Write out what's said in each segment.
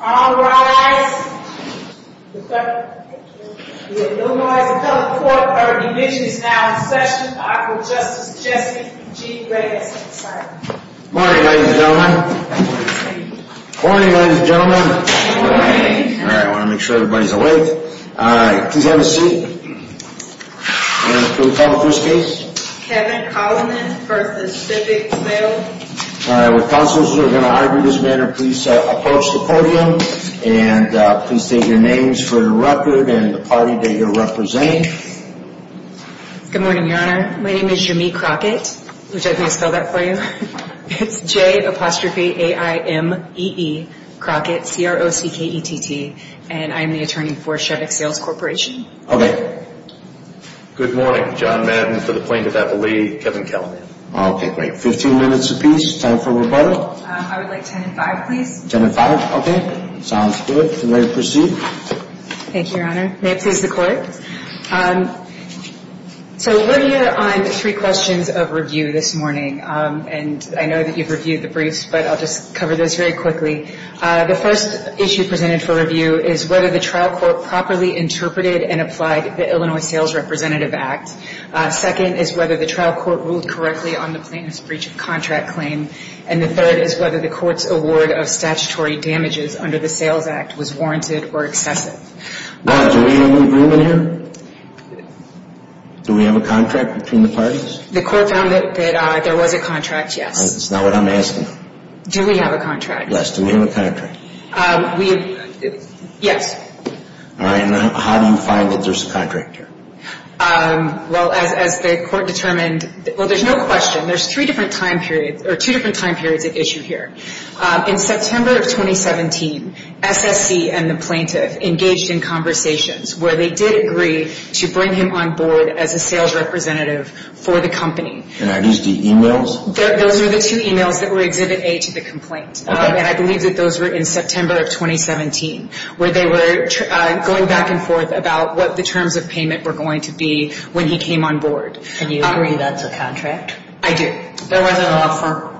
All rise. The Illinois Assembly Court Division is now in session. I call Justice Jesse G. Reyes to the side. Morning, ladies and gentlemen. Morning, ladies and gentlemen. Morning. All right, I want to make sure everybody's awake. All right, please have a seat. And can we call the first case? Kevin Collinan v. Shevick Sales. With counsels who are going to argue this matter, please approach the podium. And please state your names for the record and the party that you're representing. Good morning, Your Honor. My name is Jamee Crockett, which I think I spelled that for you. It's J-A-I-M-E-E Crockett, C-R-O-C-K-E-T-T, and I'm the attorney for Shevick Sales Corporation. Okay. Good morning. John Madden for the Plaintiff Appellee. Kevin Collinan. Okay, great. Fifteen minutes apiece. Time for rebuttal. I would like ten and five, please. Ten and five? Okay. Sounds good. You may proceed. Thank you, Your Honor. May it please the Court. So we're here on three questions of review this morning, and I know that you've reviewed the briefs, but I'll just cover those very quickly. The first issue presented for review is whether the trial court properly interpreted and applied the Illinois Sales Representative Act. Second is whether the trial court ruled correctly on the plaintiff's breach of contract claim. And the third is whether the court's award of statutory damages under the Sales Act was warranted or excessive. Do we have an agreement here? Do we have a contract between the parties? The court found that there was a contract, yes. That's not what I'm asking. Do we have a contract? Yes. Do we have a contract? Yes. All right. And how do you find that there's a contract here? Well, as the court determined, well, there's no question. There's three different time periods or two different time periods of issue here. In September of 2017, SSC and the plaintiff engaged in conversations where they did agree to bring him on board as a sales representative for the company. And are these the e-mails? Those are the two e-mails that were Exhibit A to the complaint. And I believe that those were in September of 2017, where they were going back and forth about what the terms of payment were going to be when he came on board. And you agree that's a contract? I do. There wasn't an offer?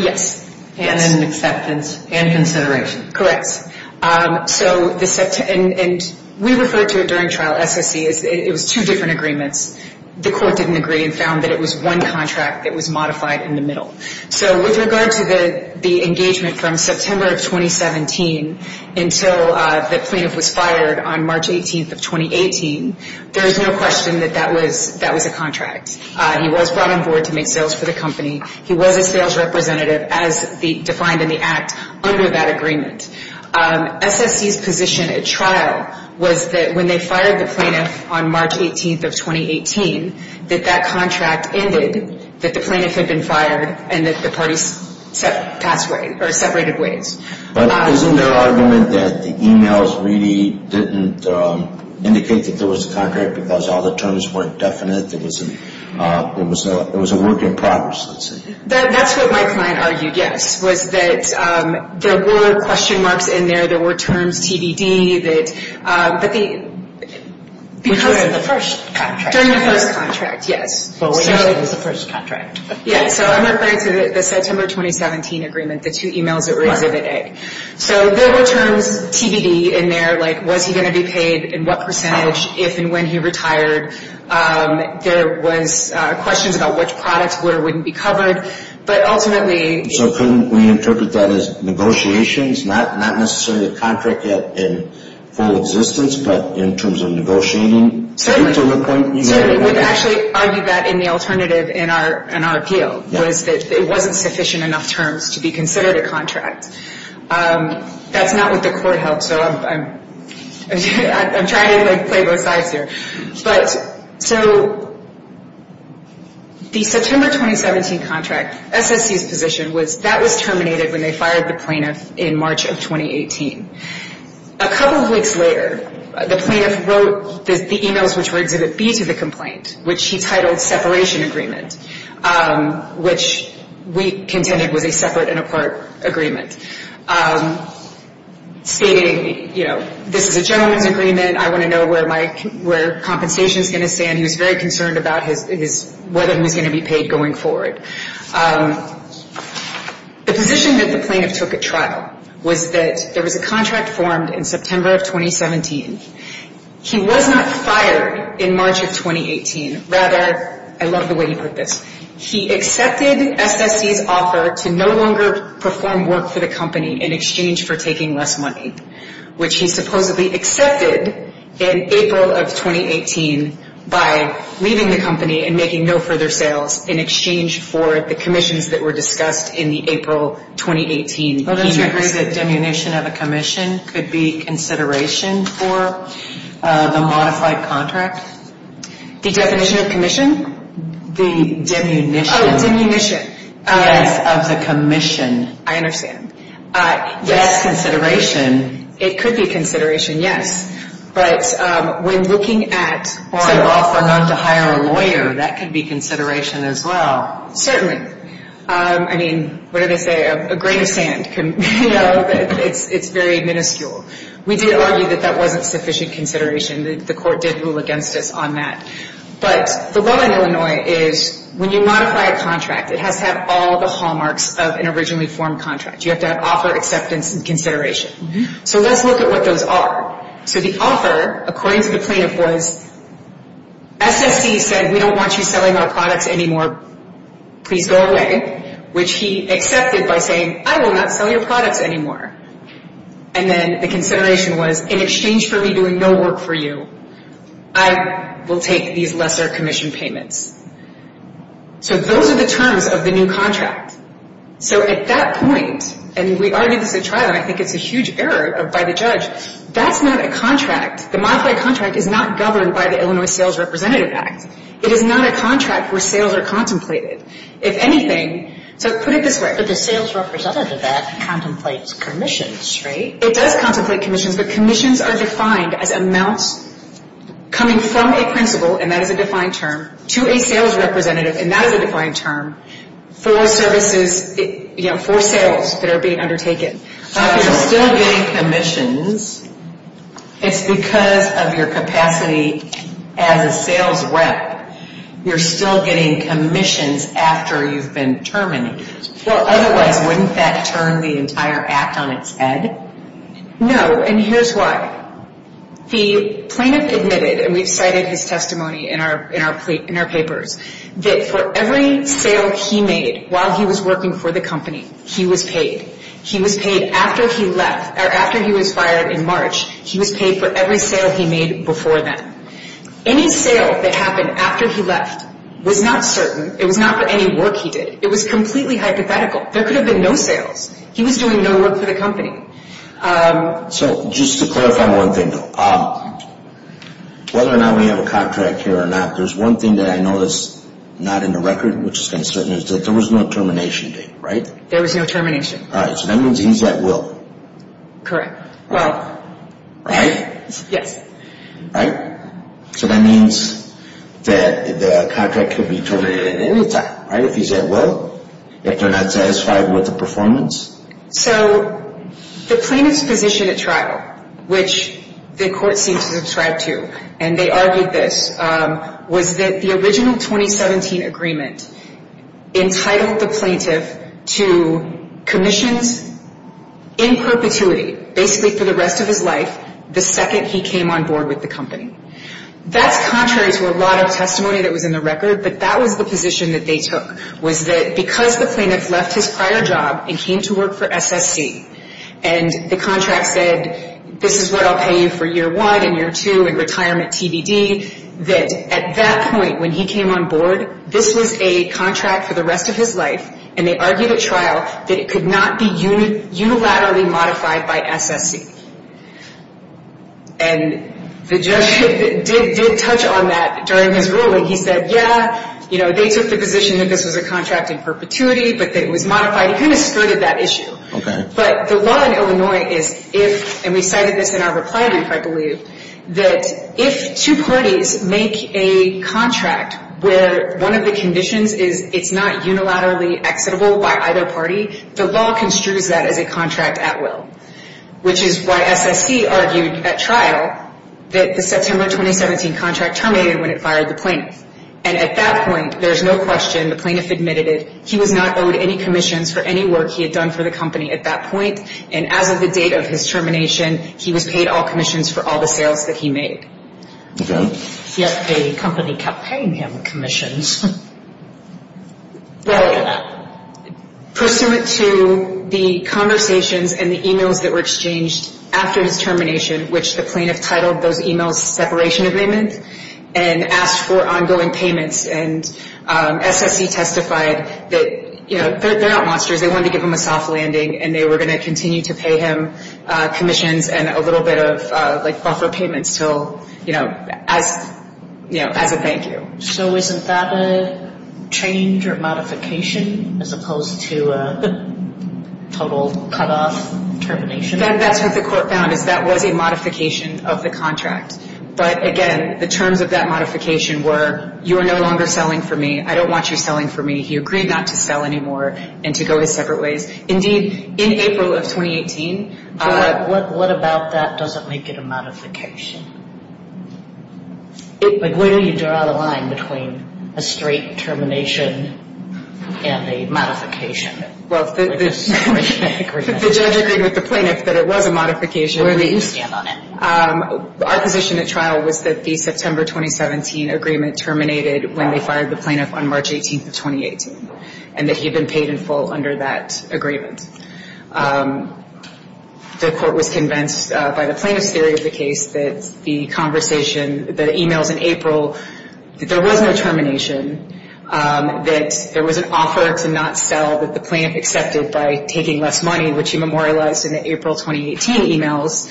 Yes. And an acceptance and consideration. Correct. And we referred to it during trial, SSC, as it was two different agreements. The court didn't agree and found that it was one contract that was modified in the middle. So with regard to the engagement from September of 2017 until the plaintiff was fired on March 18th of 2018, there's no question that that was a contract. He was brought on board to make sales for the company. He was a sales representative as defined in the act under that agreement. SSC's position at trial was that when they fired the plaintiff on March 18th of 2018, that that contract ended, that the plaintiff had been fired, and that the parties separated ways. But isn't there an argument that the e-mails really didn't indicate that there was a contract because all the terms weren't definite? It was a work in progress, let's say. That's what my client argued, yes, was that there were question marks in there. There were terms, TBD, that the – Which were in the first contract. During the first contract, yes. But which one was the first contract? Yeah, so I'm referring to the September 2017 agreement, the two e-mails that were Exhibit A. So there were terms, TBD, in there, like was he going to be paid and what percentage, if and when he retired. There was questions about which products would or wouldn't be covered. But ultimately – So couldn't we interpret that as negotiations? Not necessarily a contract in full existence, but in terms of negotiating? Certainly. To the point you made. We actually argued that in the alternative in our appeal, was that it wasn't sufficient enough terms to be considered a contract. That's not what the court held, so I'm trying to play both sides here. But, so, the September 2017 contract, SSC's position was that was terminated when they fired the plaintiff in March of 2018. A couple of weeks later, the plaintiff wrote the e-mails which were Exhibit B to the complaint, which he titled separation agreement. Which we contended was a separate and apart agreement. Stating, you know, this is a gentleman's agreement. I want to know where my – where compensation is going to stand. He was very concerned about his – whether he was going to be paid going forward. The position that the plaintiff took at trial was that there was a contract formed in September of 2017. He was not fired in March of 2018. Rather – I love the way you put this. He accepted SSC's offer to no longer perform work for the company in exchange for taking less money. Which he supposedly accepted in April of 2018 by leaving the company and making no further sales in exchange for the commissions that were discussed in the April 2018 e-mails. Well, does he agree that demunition of a commission could be consideration for the modified contract? The definition of commission? The demunition. Oh, demunition. Yes, of the commission. I understand. Yes. That's consideration. It could be consideration, yes. But when looking at – Or an offer not to hire a lawyer. That could be consideration as well. Certainly. I mean, what did I say? A grain of sand. You know, it's very minuscule. We did argue that that wasn't sufficient consideration. The court did rule against us on that. But the law in Illinois is when you modify a contract, it has to have all the hallmarks of an originally formed contract. You have to have offer, acceptance, and consideration. So let's look at what those are. So the offer, according to the plaintiff, was SSC said we don't want you selling our products anymore, please go away. Which he accepted by saying I will not sell your products anymore. And then the consideration was in exchange for me doing no work for you, I will take these lesser commission payments. So those are the terms of the new contract. So at that point, and we argued this at trial and I think it's a huge error by the judge, that's not a contract. The modified contract is not governed by the Illinois Sales Representative Act. It is not a contract where sales are contemplated. If anything, so put it this way. But the sales representative act contemplates commissions, right? It does contemplate commissions, but commissions are defined as amounts coming from a principal, and that is a defined term, to a sales representative, and that is a defined term, for services, for sales that are being undertaken. So if you're still getting commissions, it's because of your capacity as a sales rep. You're still getting commissions after you've been terminated. Well, otherwise, wouldn't that turn the entire act on its head? No, and here's why. The plaintiff admitted, and we've cited his testimony in our papers, that for every sale he made while he was working for the company, he was paid. He was paid after he left, or after he was fired in March, he was paid for every sale he made before then. Any sale that happened after he left was not certain. It was not for any work he did. It was completely hypothetical. There could have been no sales. He was doing no work for the company. So just to clarify one thing, though, whether or not we have a contract here or not, there's one thing that I know that's not in the record, which is concerning, is that there was no termination date, right? There was no termination. All right, so that means he's at will. Correct. Well. Right? Yes. Right? So that means that the contract could be terminated at any time, right? If he's at will? If they're not satisfied with the performance? So the plaintiff's position at trial, which the court seemed to subscribe to, and they argued this, was that the original 2017 agreement entitled the plaintiff to commissions in perpetuity, basically for the rest of his life, the second he came on board with the company. That's contrary to a lot of testimony that was in the record, but that was the position that they took, was that because the plaintiff left his prior job and came to work for SSC, and the contract said this is what I'll pay you for year one and year two in retirement TBD, that at that point when he came on board, this was a contract for the rest of his life, and they argued at trial that it could not be unilaterally modified by SSC. And the judge did touch on that during his ruling. He said, yeah, you know, they took the position that this was a contract in perpetuity, but that it was modified. He kind of skirted that issue. Okay. But the law in Illinois is if, and we cited this in our reply brief, I believe, that if two parties make a contract where one of the conditions is it's not unilaterally exitable by either party, the law construes that as a contract at will, which is why SSC argued at trial that the September 2017 contract terminated when it fired the plaintiff. And at that point, there's no question the plaintiff admitted it. He was not owed any commissions for any work he had done for the company at that point, and as of the date of his termination, he was paid all commissions for all the sales that he made. Okay. Yet the company kept paying him commissions. Well, pursuant to the conversations and the e-mails that were exchanged after his termination, which the plaintiff titled those e-mails separation agreement, and asked for ongoing payments, and SSC testified that, you know, they're not monsters. They wanted to give him a soft landing, and they were going to continue to pay him commissions and a little bit of, like, buffer payments till, you know, as a thank you. So isn't that a change or modification as opposed to a total cutoff termination? That's what the court found, is that was a modification of the contract. But, again, the terms of that modification were, you are no longer selling for me. I don't want you selling for me. He agreed not to sell anymore and to go his separate ways. Indeed, in April of 2018. What about that doesn't make it a modification? Like, where do you draw the line between a straight termination and a modification? Well, the judge agreed with the plaintiff that it was a modification. Where do you stand on it? Our position at trial was that the September 2017 agreement terminated when they fired the plaintiff on March 18th of 2018, The court was convinced by the plaintiff's theory of the case that the conversation, the e-mails in April, that there was no termination, that there was an offer to not sell that the plaintiff accepted by taking less money, which he memorialized in the April 2018 e-mails.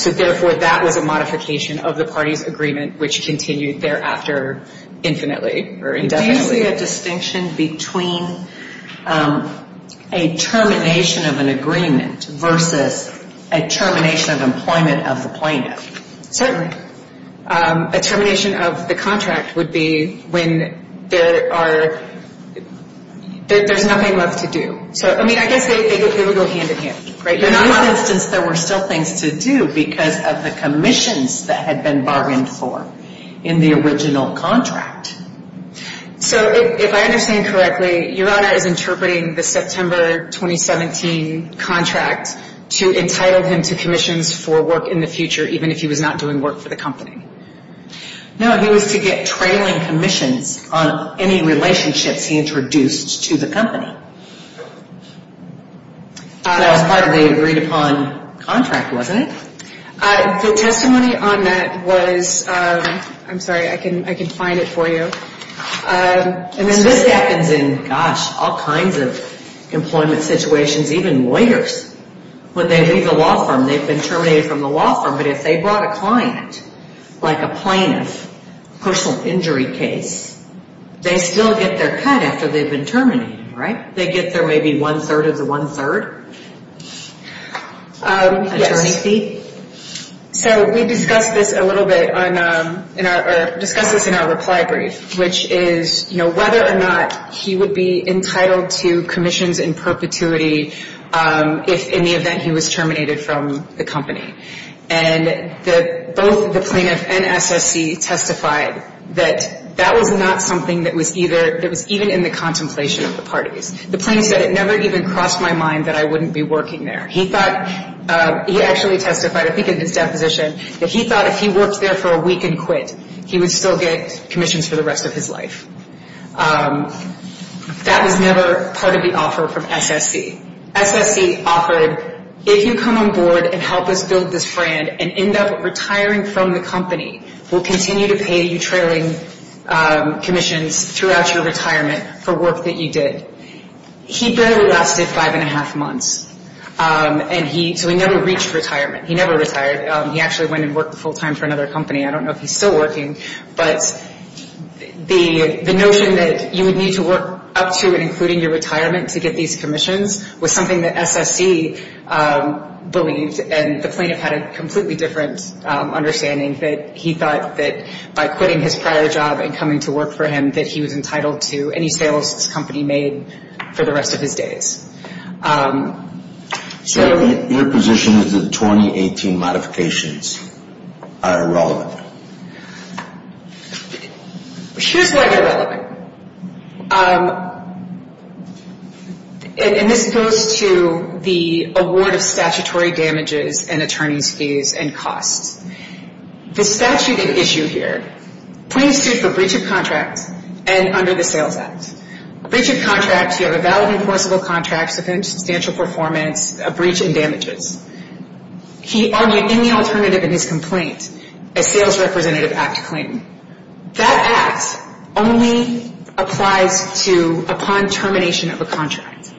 So, therefore, that was a modification of the party's agreement, which continued thereafter infinitely or indefinitely. Do you see a distinction between a termination of an agreement versus a termination of employment of the plaintiff? Certainly. A termination of the contract would be when there are, there's nothing left to do. So, I mean, I guess they would go hand in hand. In this instance, there were still things to do because of the commissions that had been bargained for in the original contract. So, if I understand correctly, Your Honor is interpreting the September 2017 contract to entitle him to commissions for work in the future even if he was not doing work for the company. No, he was to get trailing commissions on any relationships he introduced to the company. That was part of the agreed upon contract, wasn't it? The testimony on that was, I'm sorry, I can find it for you. This happens in, gosh, all kinds of employment situations, even lawyers. When they leave the law firm, they've been terminated from the law firm, but if they brought a client, like a plaintiff, personal injury case, they still get their cut after they've been terminated, right? They get their maybe one-third of the one-third? Yes. So, we discussed this a little bit in our reply brief, which is whether or not he would be entitled to commissions in perpetuity if, in the event, he was terminated from the company. And both the plaintiff and SSC testified that that was not something that was even in the contemplation of the parties. The plaintiff said, it never even crossed my mind that I wouldn't be working there. He thought, he actually testified, I think in his deposition, that he thought if he worked there for a week and quit, he would still get commissions for the rest of his life. That was never part of the offer from SSC. SSC offered, if you come on board and help us build this brand and end up retiring from the company, we'll continue to pay you trailing commissions throughout your retirement for work that you did. He barely lasted five-and-a-half months. And he, so he never reached retirement. He never retired. He actually went and worked full-time for another company. I don't know if he's still working. But the notion that you would need to work up to and including your retirement to get these commissions was something that SSC believed, and the plaintiff had a completely different understanding, that he thought that by quitting his prior job and coming to work for him, that he was entitled to any sales this company made for the rest of his days. So... Your position is that the 2018 modifications are irrelevant. Here's why they're relevant. And this goes to the award of statutory damages and attorney's fees and costs. The statute at issue here, plaintiffs sued for breach of contract and under the Sales Act. Breach of contract, you have a valid enforceable contract with substantial performance, a breach and damages. He argued any alternative in his complaint, a Sales Representative Act claim. That act only applies to upon termination of a contract.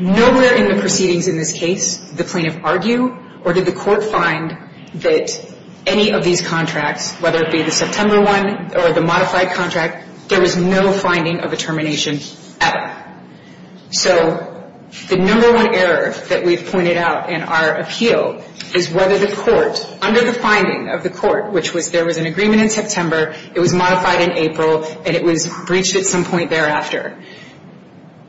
Nowhere in the proceedings in this case did the plaintiff argue or did the court find that any of these contracts, whether it be the September one or the modified contract, there was no finding of a termination at all. So the number one error that we've pointed out in our appeal is whether the court, under the finding of the court, which was there was an agreement in September, it was modified in April, and it was breached at some point thereafter,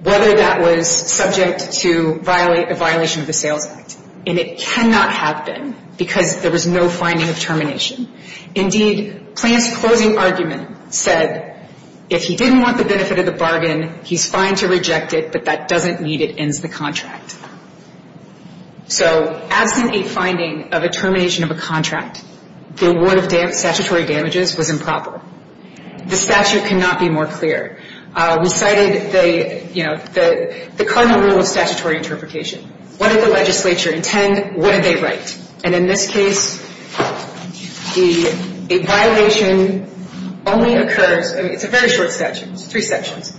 whether that was subject to a violation of the Sales Act. And it cannot have been because there was no finding of termination. Indeed, Plante's closing argument said, if he didn't want the benefit of the bargain, he's fine to reject it, but that doesn't mean it ends the contract. So absent a finding of a termination of a contract, the award of statutory damages was improper. The statute cannot be more clear. We cited the, you know, the cardinal rule of statutory interpretation. What did the legislature intend? What did they write? And in this case, a violation only occurs, I mean, it's a very short statute. It's three sections.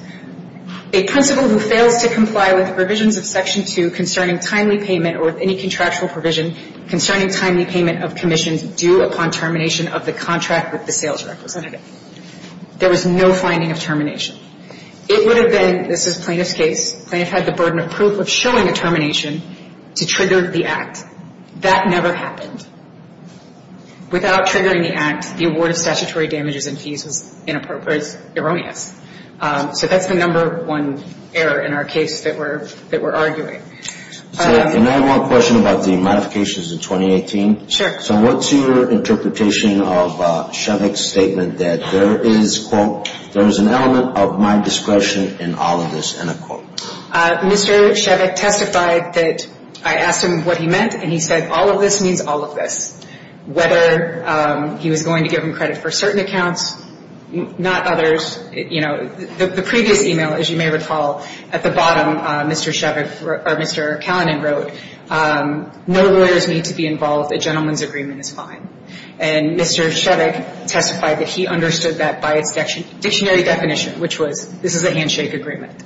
A principal who fails to comply with provisions of Section 2 concerning timely payment or any contractual provision concerning timely payment of commissions due upon termination of the contract with the sales representative. There was no finding of termination. It would have been, this is Plante's case, Plante had the burden of proof of showing a termination to trigger the act. That never happened. Without triggering the act, the award of statutory damages and fees was inappropriate or erroneous. So that's the number one error in our case that we're arguing. Can I have one question about the modifications in 2018? Sure. So what's your interpretation of Shevick's statement that there is, quote, there is an element of my discretion in all of this, end of quote? Mr. Shevick testified that I asked him what he meant, and he said all of this means all of this. Whether he was going to give him credit for certain accounts, not others. You know, the previous email, as you may recall, at the bottom, Mr. Shevick, or Mr. Callanan wrote, no lawyers need to be involved. A gentleman's agreement is fine. And Mr. Shevick testified that he understood that by its dictionary definition, which was this is a handshake agreement.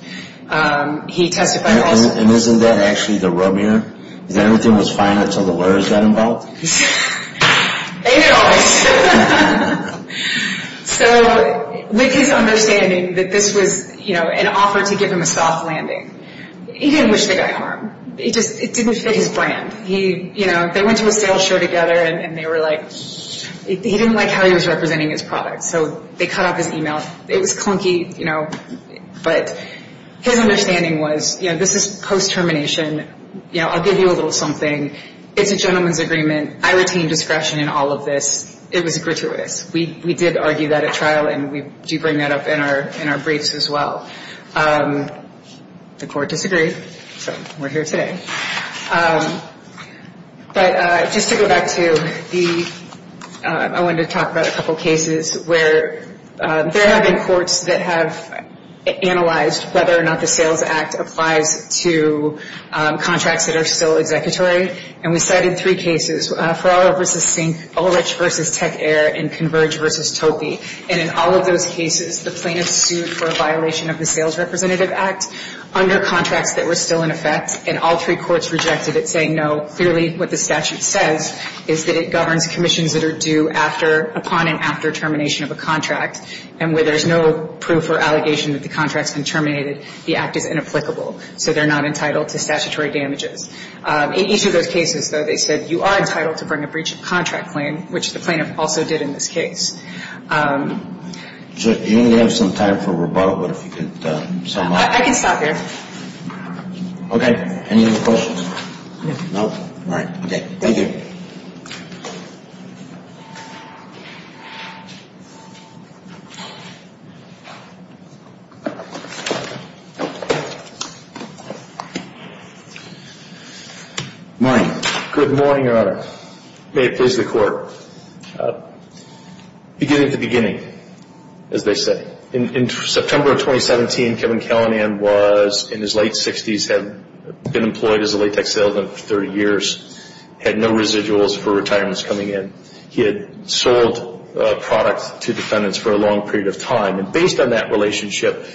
He testified also. And isn't that actually the rub here? Is that everything was fine until the lawyers got involved? They did all this. So with his understanding that this was, you know, an offer to give him a soft landing, he didn't wish to get harmed. It just didn't fit his brand. You know, they went to a sales show together, and they were like, he didn't like how he was representing his product. So they cut off his email. It was clunky, you know, but his understanding was, you know, this is post-termination. You know, I'll give you a little something. It's a gentleman's agreement. I retain discretion in all of this. It was gratuitous. We did argue that at trial, and we do bring that up in our briefs as well. The court disagreed, so we're here today. But just to go back to the – I wanted to talk about a couple cases where there have been courts that have analyzed whether or not the Sales Act applies to contracts that are still executory. And we cited three cases, Ferrara v. Sink, Ulrich v. Tech Air, and Converge v. Topey. And in all of those cases, the plaintiffs sued for a violation of the Sales Representative Act under contracts that were still in effect, and all three courts rejected it, saying no. Clearly, what the statute says is that it governs commissions that are due after – upon and after termination of a contract. And where there's no proof or allegation that the contract's been terminated, the act is inapplicable. So they're not entitled to statutory damages. In each of those cases, though, they said you are entitled to bring a breach of contract claim, which the plaintiff also did in this case. So you only have some time for rebuttal, but if you could sum up. I can stop here. Okay. No. All right. Thank you. Good morning, Your Honor. May it please the Court. Beginning to beginning, as they say. In September of 2017, Kevin Kellenand was in his late 60s, had been employed as a latex salesman for 30 years, had no experience in the business world at all, coming in. He had sold products to defendants for a long period of time. And based on that relationship,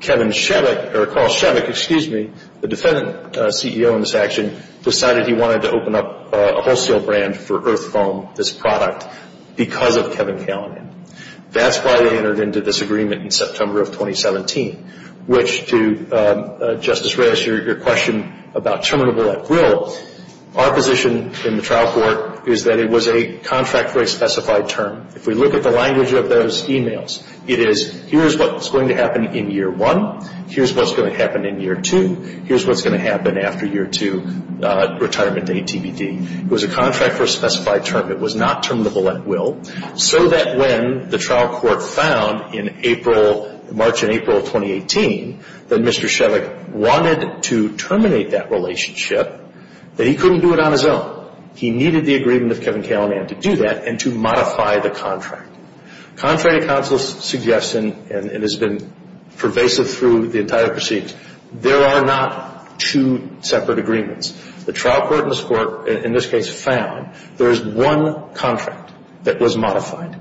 Kevin Shevick – or Carl Shevick, excuse me, the defendant CEO in this action decided he wanted to open up a wholesale brand for Earth Foam, this product, because of Kevin Kellenand. That's why they entered into this agreement in September of 2017, which, to Justice Reyes, your question about terminable at will, our position in the trial court is that it was a contract for a specified term. If we look at the language of those emails, it is, here's what's going to happen in year one, here's what's going to happen in year two, here's what's going to happen after year two retirement to ATBD. It was a contract for a specified term. It was not terminable at will, so that when the trial court found in April, March and April of 2018, that Mr. Shevick wanted to terminate that relationship, that he couldn't do it on his own. He needed the agreement of Kevin Kellenand to do that and to modify the contract. Contrary to counsel's suggestion, and it has been pervasive through the entire proceedings, there are not two separate agreements. The trial court in this case found there is one contract that was modified.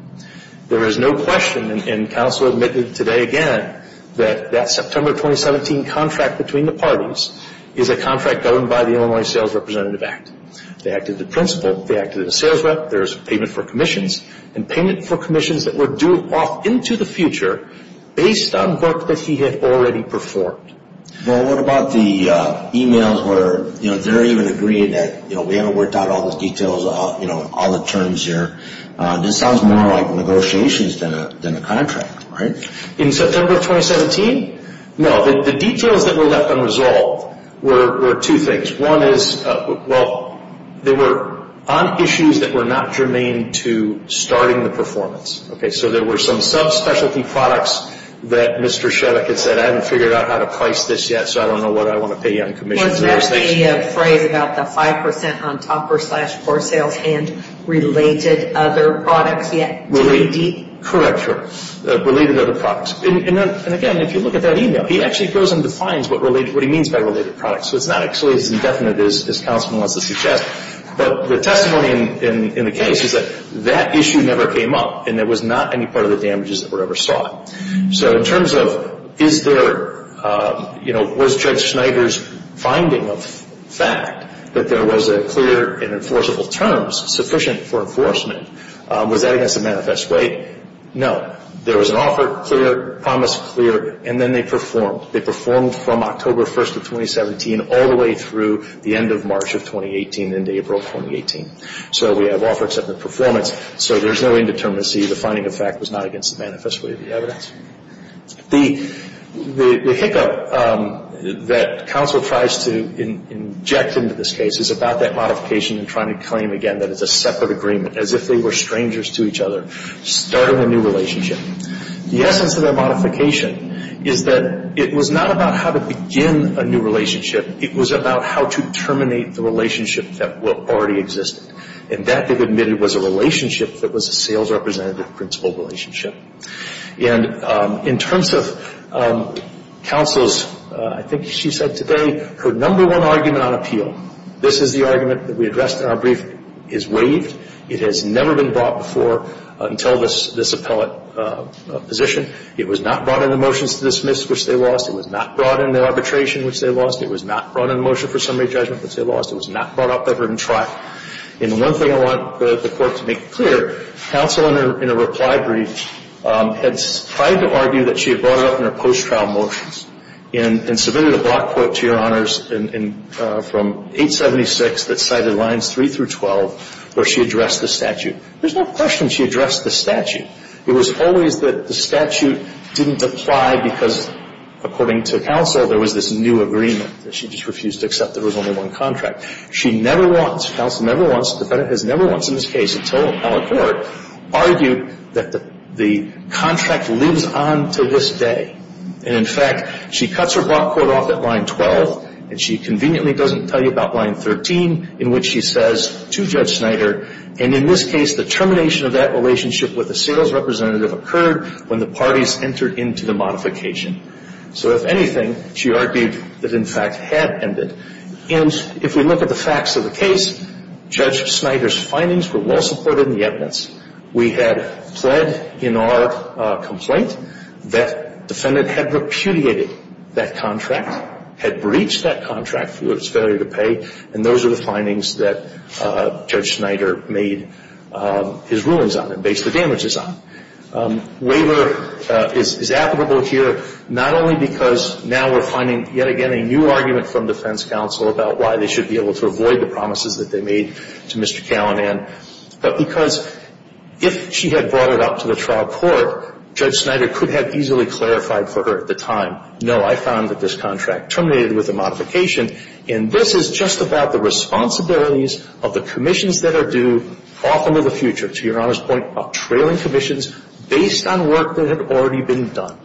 There is no question, and counsel admitted today again, that that September 2017 contract between the parties is a contract governed by the Illinois Sales Representative Act. They acted the principle. They acted as a sales rep. There's payment for commissions, and payment for commissions that were due off into the future based on work that he had already performed. Well, what about the emails where they're even agreeing that, you know, we haven't worked out all the details, you know, all the terms here. This sounds more like negotiations than a contract, right? In September 2017? No. The details that were left unresolved were two things. One is, well, they were on issues that were not germane to starting the performance. Okay, so there were some subspecialty products that Mr. Shevick had said, I haven't figured out how to price this yet, so I don't know what I want to pay you on commission. Wasn't that the phrase about the 5% on topper-slash-for-sales-hand related other products yet? Correct, sir. Related other products. And again, if you look at that email, he actually goes and defines what he means by related products. So it's not actually as indefinite as counsel wants to suggest. But the testimony in the case is that that issue never came up, and it was not any part of the damages that were ever sought. So in terms of is there, you know, was Judge Schneider's finding of fact that there was a clear and enforceable terms sufficient for enforcement, was that against the manifest way? No. There was an offer, clear, promise, clear, and then they performed. They performed from October 1st of 2017 all the way through the end of March of 2018 into April of 2018. So we have offer except the performance. So there's no indeterminacy. The finding of fact was not against the manifest way of the evidence. The hiccup that counsel tries to inject into this case is about that modification and trying to claim again that it's a separate agreement as if they were strangers to each other, starting a new relationship. The essence of that modification is that it was not about how to begin a new relationship. It was about how to terminate the relationship that already existed. And that, they've admitted, was a relationship that was a sales representative principle relationship. And in terms of counsel's, I think she said today, her number one argument on appeal, this is the argument that we addressed in our brief, is waived. It has never been brought before until this appellate position. It was not brought in the motions to dismiss, which they lost. It was not brought in the arbitration, which they lost. It was not brought in the motion for summary judgment, which they lost. It was not brought up ever in trial. And one thing I want the Court to make clear, counsel in her reply brief had tried to argue that she had brought it up in her post-trial motions and submitted a block quote to Your Honors from 876 that cited lines 3 through 12 where she addressed the statute. There's no question she addressed the statute. It was always that the statute didn't apply because, according to counsel, there was this new agreement that she just refused to accept. There was only one contract. She never once, counsel never once, the defendant has never once in this case until appellate court, argued that the contract lives on to this day. And, in fact, she cuts her block quote off at line 12, and she conveniently doesn't tell you about line 13 in which she says to Judge Snyder, and in this case the termination of that relationship with the sales representative occurred when the parties entered into the modification. So, if anything, she argued that, in fact, had ended. And if we look at the facts of the case, Judge Snyder's findings were well supported in the evidence. We had pled in our complaint that defendant had repudiated that contract, had breached that contract through its failure to pay, and those are the findings that Judge Snyder made his rulings on and based the damages on. Waiver is applicable here not only because now we're finding, yet again, a new argument from defense counsel about why they should be able to avoid the promises that they made to Mr. Callinan, but because if she had brought it up to the trial court, Judge Snyder could have easily clarified for her at the time, no, I found that this contract terminated with a modification, and this is just about the responsibilities of the commissions that are due off into the future, to Your Honor's point, of trailing commissions based on work that had already been done,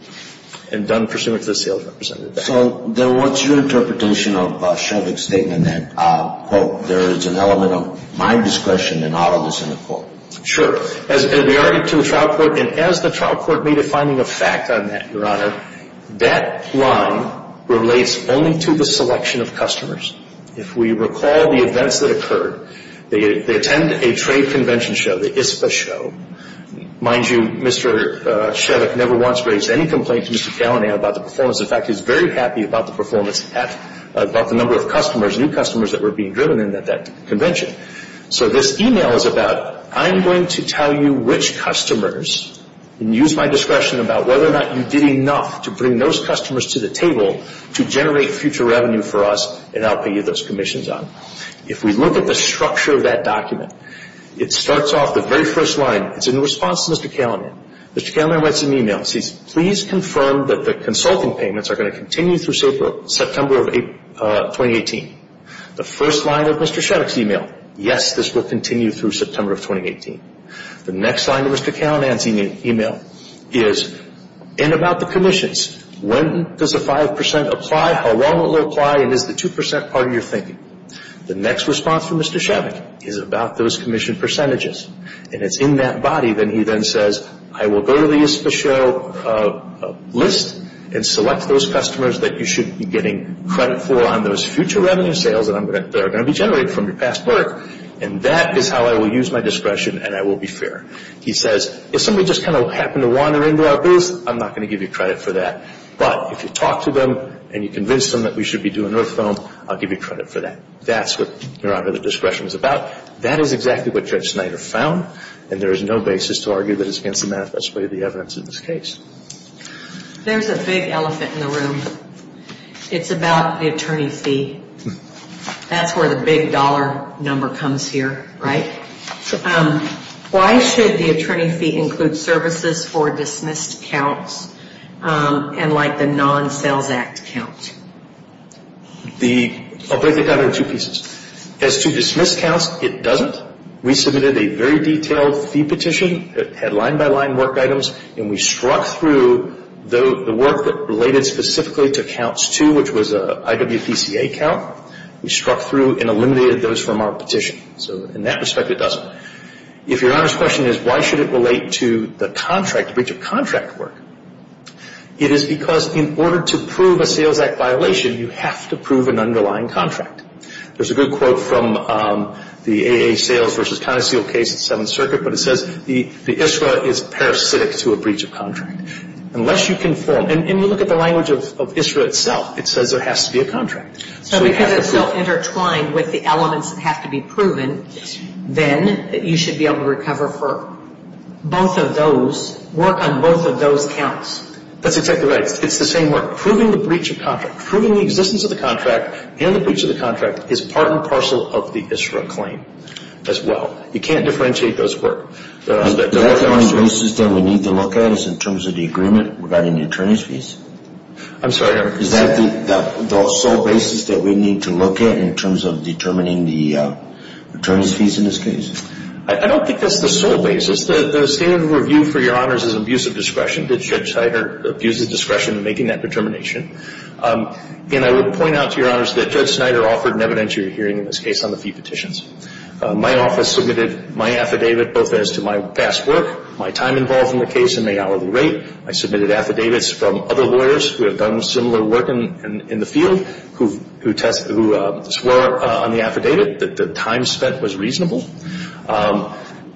and done presumably to the sales representative. So then what's your interpretation of Chevick's statement that, quote, there is an element of my discretion in all of this, end of quote? Sure. And as the trial court made a finding of fact on that, Your Honor, that one relates only to the selection of customers. If we recall the events that occurred, they attend a trade convention show, the ISPA show. Mind you, Mr. Chevick never once raised any complaint to Mr. Callinan about the performance. In fact, he was very happy about the performance at the number of customers, new customers that were being driven in at that convention. So this e-mail is about, I'm going to tell you which customers, and use my discretion about whether or not you did enough to bring those customers to the table to generate future revenue for us, and I'll pay you those commissions on it. If we look at the structure of that document, it starts off, the very first line, it's in response to Mr. Callinan. Mr. Callinan writes an e-mail and says, please confirm that the consulting payments are going to continue through September of 2018. The first line of Mr. Chevick's e-mail, yes, this will continue through September of 2018. The next line of Mr. Callinan's e-mail is in about the commissions. It's when does the 5% apply, how long will it apply, and is the 2% part of your thinking? The next response from Mr. Chevick is about those commission percentages. And it's in that body that he then says, I will go to the ISPA show list and select those customers that you should be getting credit for on those future revenue sales that are going to be generated from your past work, and that is how I will use my discretion, and I will be fair. He says, if somebody just kind of happened to wander into our booth, I'm not going to give you credit for that. But if you talk to them and you convince them that we should be doing earth foam, I'll give you credit for that. That's what your Honor, the discretion is about. That is exactly what Judge Snyder found, and there is no basis to argue that it's against the manifest way of the evidence in this case. There's a big elephant in the room. It's about the attorney fee. That's where the big dollar number comes here, right? Sure. Why should the attorney fee include services for dismissed counts and like the non-Sales Act count? I'll break it down into two pieces. As to dismissed counts, it doesn't. We submitted a very detailed fee petition that had line-by-line work items, and we struck through the work that related specifically to counts two, which was an IWPCA count. We struck through and eliminated those from our petition. So in that respect, it doesn't. If your Honor's question is, why should it relate to the contract, the breach of contract work, it is because in order to prove a Sales Act violation, you have to prove an underlying contract. There's a good quote from the AA Sales v. Conoceal case at Seventh Circuit, but it says the ISRA is parasitic to a breach of contract. Unless you conform, and you look at the language of ISRA itself, it says there has to be a contract. So because it's so intertwined with the elements that have to be proven, then you should be able to recover for both of those, work on both of those counts. That's exactly right. It's the same work. Proving the breach of contract. Proving the existence of the contract and the breach of the contract is part and parcel of the ISRA claim as well. You can't differentiate those work. The only basis that we need to look at is in terms of the agreement regarding the attorney's fees? I'm sorry, Your Honor. Is that the sole basis that we need to look at in terms of determining the attorney's fees in this case? I don't think that's the sole basis. The standard of review for Your Honors is abuse of discretion. Did Judge Snyder abuse his discretion in making that determination? And I would point out to Your Honors that Judge Snyder offered an evidentiary hearing in this case on the fee petitions. My office submitted my affidavit both as to my past work, my time involved in the case, and my hourly rate. I submitted affidavits from other lawyers who have done similar work in the field who test, who swore on the affidavit that the time spent was reasonable.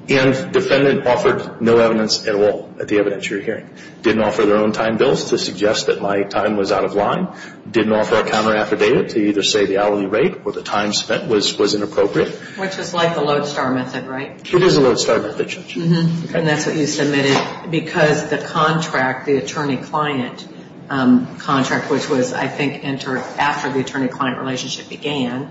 And defendant offered no evidence at all at the evidentiary hearing. Didn't offer their own time bills to suggest that my time was out of line. Didn't offer a counter affidavit to either say the hourly rate or the time spent was inappropriate. Which is like the lodestar method, right? It is a lodestar method, Judge. And that's what you submitted because the contract, the attorney-client contract, which was, I think, entered after the attorney-client relationship began,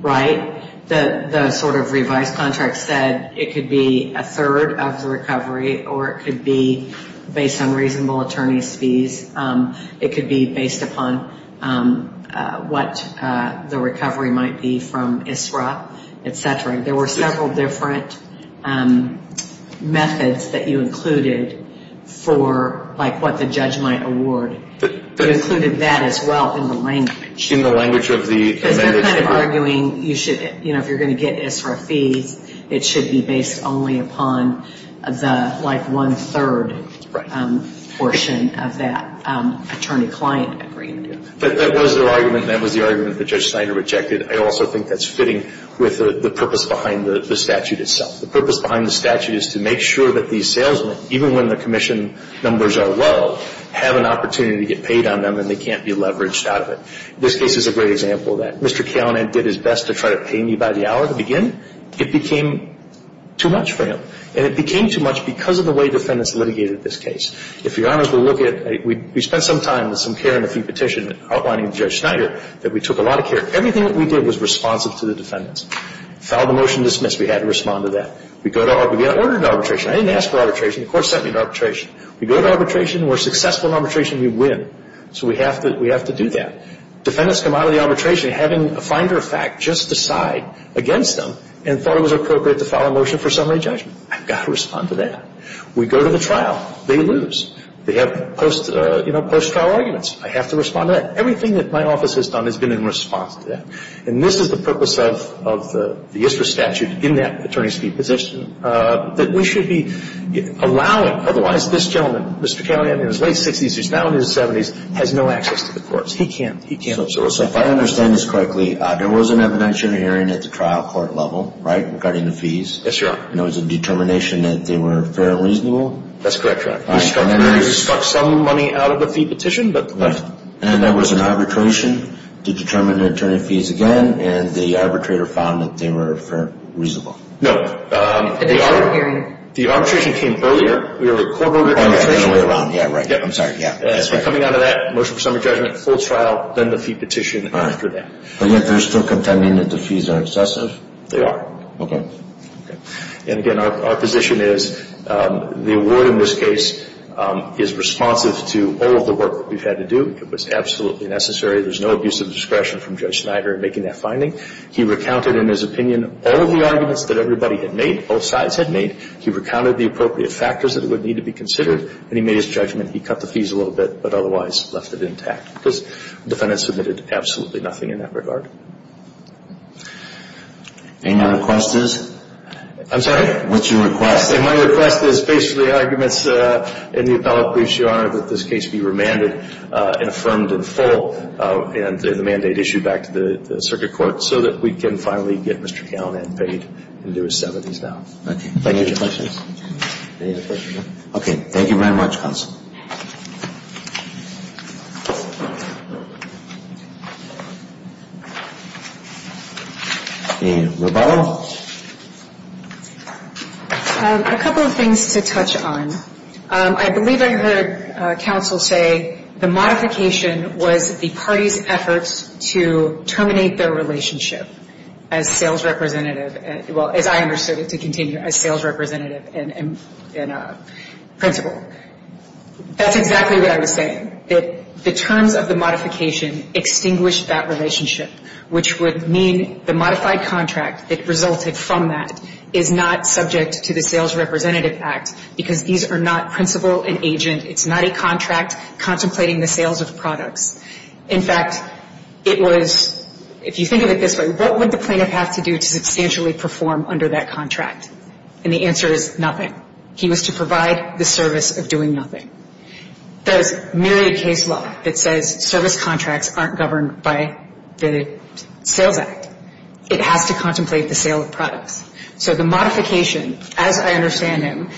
right? The sort of revised contract said it could be a third of the recovery or it could be based on reasonable attorney's fees. It could be based upon what the recovery might be from ISRA, et cetera. I'm sorry. There were several different methods that you included for, like, what the judge might award. You included that as well in the language. In the language of the amendment. Because you're kind of arguing you should, you know, if you're going to get ISRA fees, it should be based only upon the, like, one-third portion of that attorney-client agreement. But that was the argument, and that was the argument that Judge Steiner rejected. I also think that's fitting with the purpose behind the statute itself. The purpose behind the statute is to make sure that these salesmen, even when the commission numbers are low, have an opportunity to get paid on them and they can't be leveraged out of it. This case is a great example of that. Mr. Keonan did his best to try to pay me by the hour to begin. It became too much for him. And it became too much because of the way defendants litigated this case. If Your Honors will look at it, we spent some time with some care and a few petition outlining to Judge Steiner that we took a lot of care. Everything that we did was responsive to the defendants. Filed a motion to dismiss. We had to respond to that. We got ordered into arbitration. I didn't ask for arbitration. The court sent me to arbitration. We go to arbitration. We're successful in arbitration. We win. So we have to do that. Defendants come out of the arbitration having a finder of fact just decide against them and thought it was appropriate to file a motion for summary judgment. I've got to respond to that. We go to the trial. They lose. They have post-trial arguments. I have to respond to that. Everything that my office has done has been in response to that. And this is the purpose of the ISRA statute in that attorney's fee position, that we should be allowing. Otherwise, this gentleman, Mr. Callahan, in his late 60s, who's now in his 70s, has no access to the courts. He can't serve. So if I understand this correctly, there was an evidentiary hearing at the trial court level, right, regarding the fees? Yes, Your Honor. And it was a determination that they were fair and reasonable? That's correct, Your Honor. We stuck some money out of the fee petition. And there was an arbitration to determine the attorney fees again, and the arbitrator found that they were fair and reasonable? No. At the hearing, the arbitration came earlier. We were a quarter of the way around. Yeah, right. I'm sorry. Coming out of that, motion for summary judgment, full trial, then the fee petition after that. But yet they're still contending that the fees are excessive? They are. Okay. And, again, our position is the award in this case is responsive to all of the work that we've had to do. It was absolutely necessary. There's no abuse of discretion from Judge Snyder in making that finding. He recounted in his opinion all of the arguments that everybody had made, both sides had made. He recounted the appropriate factors that would need to be considered, and he made his judgment. He cut the fees a little bit, but otherwise left it intact, because the defendant submitted absolutely nothing in that regard. Any other questions? I'm sorry? What's your request? My request is based on the arguments in the appellate briefs, Your Honor, that this case be remanded and affirmed in full and the mandate issued back to the circuit court so that we can finally get Mr. Callinan paid into his 70s now. Okay. Any other questions? Okay. Thank you very much, counsel. And Rebecca? A couple of things to touch on. I believe I heard counsel say the modification was the party's efforts to terminate their relationship as sales representative, well, as I understood it to continue, as sales representative and principal. That's exactly what I was saying, that the terms of the modification extinguished that relationship which would mean the modified contract that resulted from that is not subject to the Sales Representative Act because these are not principal and agent. It's not a contract contemplating the sales of products. In fact, it was, if you think of it this way, what would the plaintiff have to do to substantially perform under that contract? And the answer is nothing. He was to provide the service of doing nothing. There's myriad case law that says service contracts aren't governed by the Sales Act. It has to contemplate the sale of products. So the modification, as I understand him,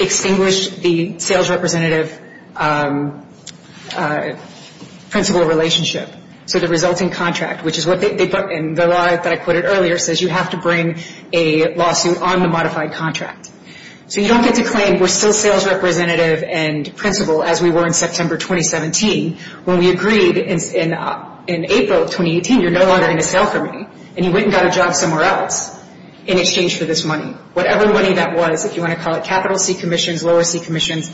extinguished the sales representative-principal relationship. So the resulting contract, which is what they put in the law that I quoted earlier, says you have to bring a lawsuit on the modified contract. So you don't get to claim we're still sales representative and principal as we were in September 2017 when we agreed in April 2018 you're no longer going to sale for me. And you went and got a job somewhere else in exchange for this money. Whatever money that was, if you want to call it capital C commissions, lower C commissions,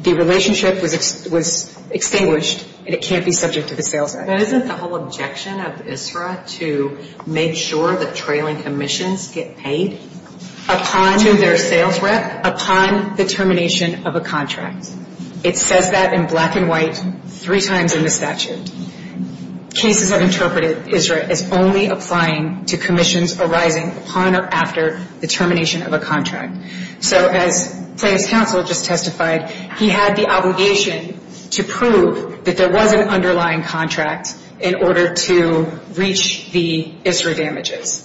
the relationship was extinguished and it can't be subject to the Sales Act. But isn't the whole objection of ISRA to make sure that trailing commissions get paid to their sales rep upon the termination of a contract? It says that in black and white three times in the statute. Cases have interpreted ISRA as only applying to commissions arising upon or after the termination of a contract. So as plaintiff's counsel just testified, he had the obligation to prove that there was an underlying contract in order to reach the ISRA damages.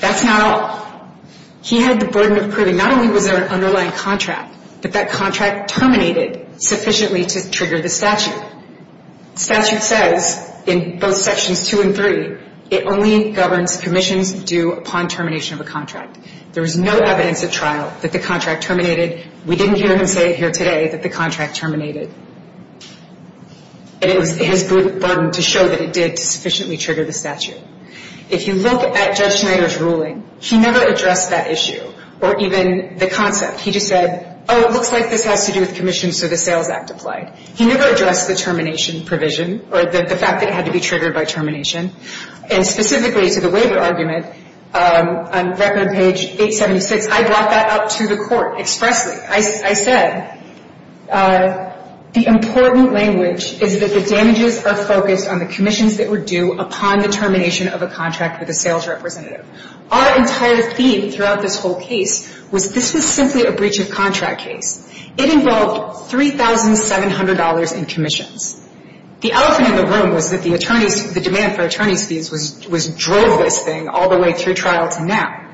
That's not all. He had the burden of proving not only was there an underlying contract, but that contract terminated sufficiently to trigger the statute. Statute says in both sections two and three, it only governs commissions due upon termination of a contract. There was no evidence at trial that the contract terminated. We didn't hear him say it here today that the contract terminated. And it was his burden to show that it did sufficiently trigger the statute. If you look at Judge Schneider's ruling, he never addressed that issue or even the concept. He just said, oh, it looks like this has to do with commissions, so the Sales Act applied. He never addressed the termination provision or the fact that it had to be triggered by termination. And specifically to the waiver argument on record page 876, I brought that up to the court expressly. I said the important language is that the damages are focused on the commissions that were due upon the termination of a contract with a sales representative. Our entire theme throughout this whole case was this was simply a breach of contract case. It involved $3,700 in commissions. The elephant in the room was that the attorneys, the demand for attorney's fees drove this thing all the way through trial to now.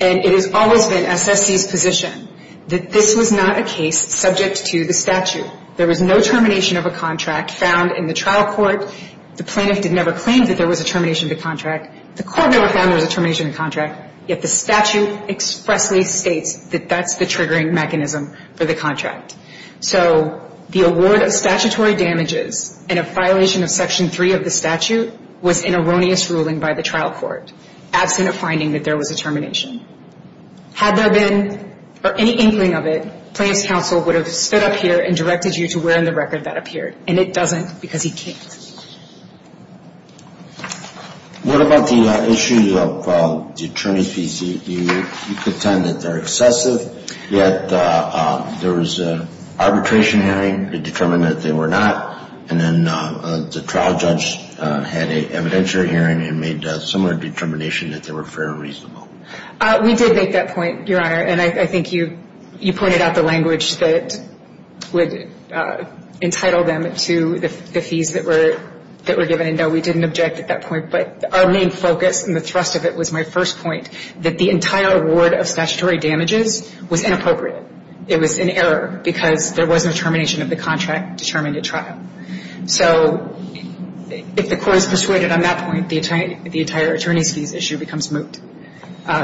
And it has always been SSC's position that this was not a case subject to the statute. There was no termination of a contract found in the trial court. The plaintiff did never claim that there was a termination of the contract. The court never found there was a termination of the contract. Yet the statute expressly states that that's the triggering mechanism for the contract. So the award of statutory damages and a violation of Section 3 of the statute was an erroneous ruling by the trial court, absent a finding that there was a termination. Had there been any inkling of it, plaintiff's counsel would have stood up here and directed you to where in the record that appeared. And it doesn't because he can't. What about the issues of the attorney's fees? You contend that they're excessive, yet there was an arbitration hearing. It determined that they were not. And then the trial judge had an evidentiary hearing and made a similar determination that they were fair and reasonable. We did make that point, Your Honor. And I think you pointed out the language that would entitle them to the fees that were given. And, no, we didn't object at that point. But our main focus and the thrust of it was my first point, that the entire award of statutory damages was inappropriate. It was an error because there wasn't a termination of the contract determined at trial. So if the court is persuaded on that point, the entire attorney's fees issue becomes moot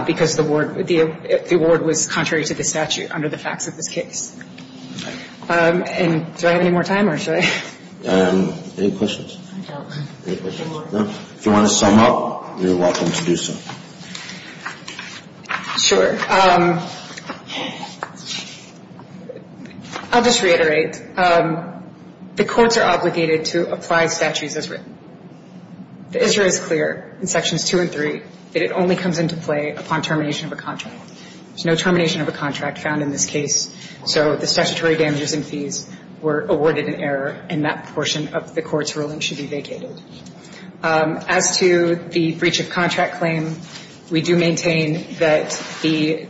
because the award was contrary to the statute under the facts of this case. And do I have any more time or should I? Any questions? If you want to sum up, you're welcome to do so. Sure. I'll just reiterate. The courts are obligated to apply statutes as written. The issue is clear in Sections 2 and 3, that it only comes into play upon termination of a contract. There's no termination of a contract found in this case. So the statutory damages and fees were awarded in error, and that portion of the court's ruling should be vacated. As to the breach of contract claim, we do maintain that the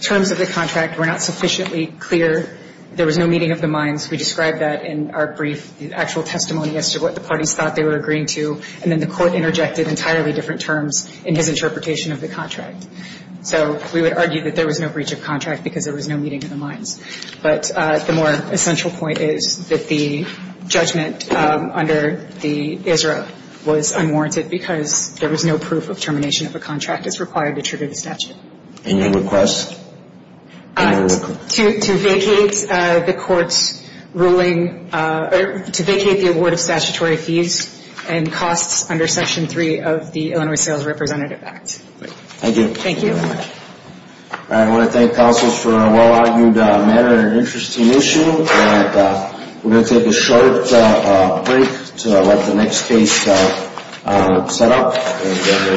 terms of the contract were not sufficiently clear. There was no meeting of the minds. We describe that in our brief actual testimony as to what the parties thought they were agreeing to, and then the court interjected entirely different terms in his interpretation of the contract. So we would argue that there was no breach of contract because there was no meeting of the minds. But the more essential point is that the judgment under the ISRA was unwarranted because there was no proof of termination of a contract as required to trigger the statute. Any requests? To vacate the court's ruling, or to vacate the award of statutory fees and costs under Section 3 of the Illinois Sales Representative Act. Thank you. Thank you very much. I want to thank counsels for a well-argued matter and an interesting issue, and we're going to take a short break to let the next case set up and get ready to proceed. Court is adjourned.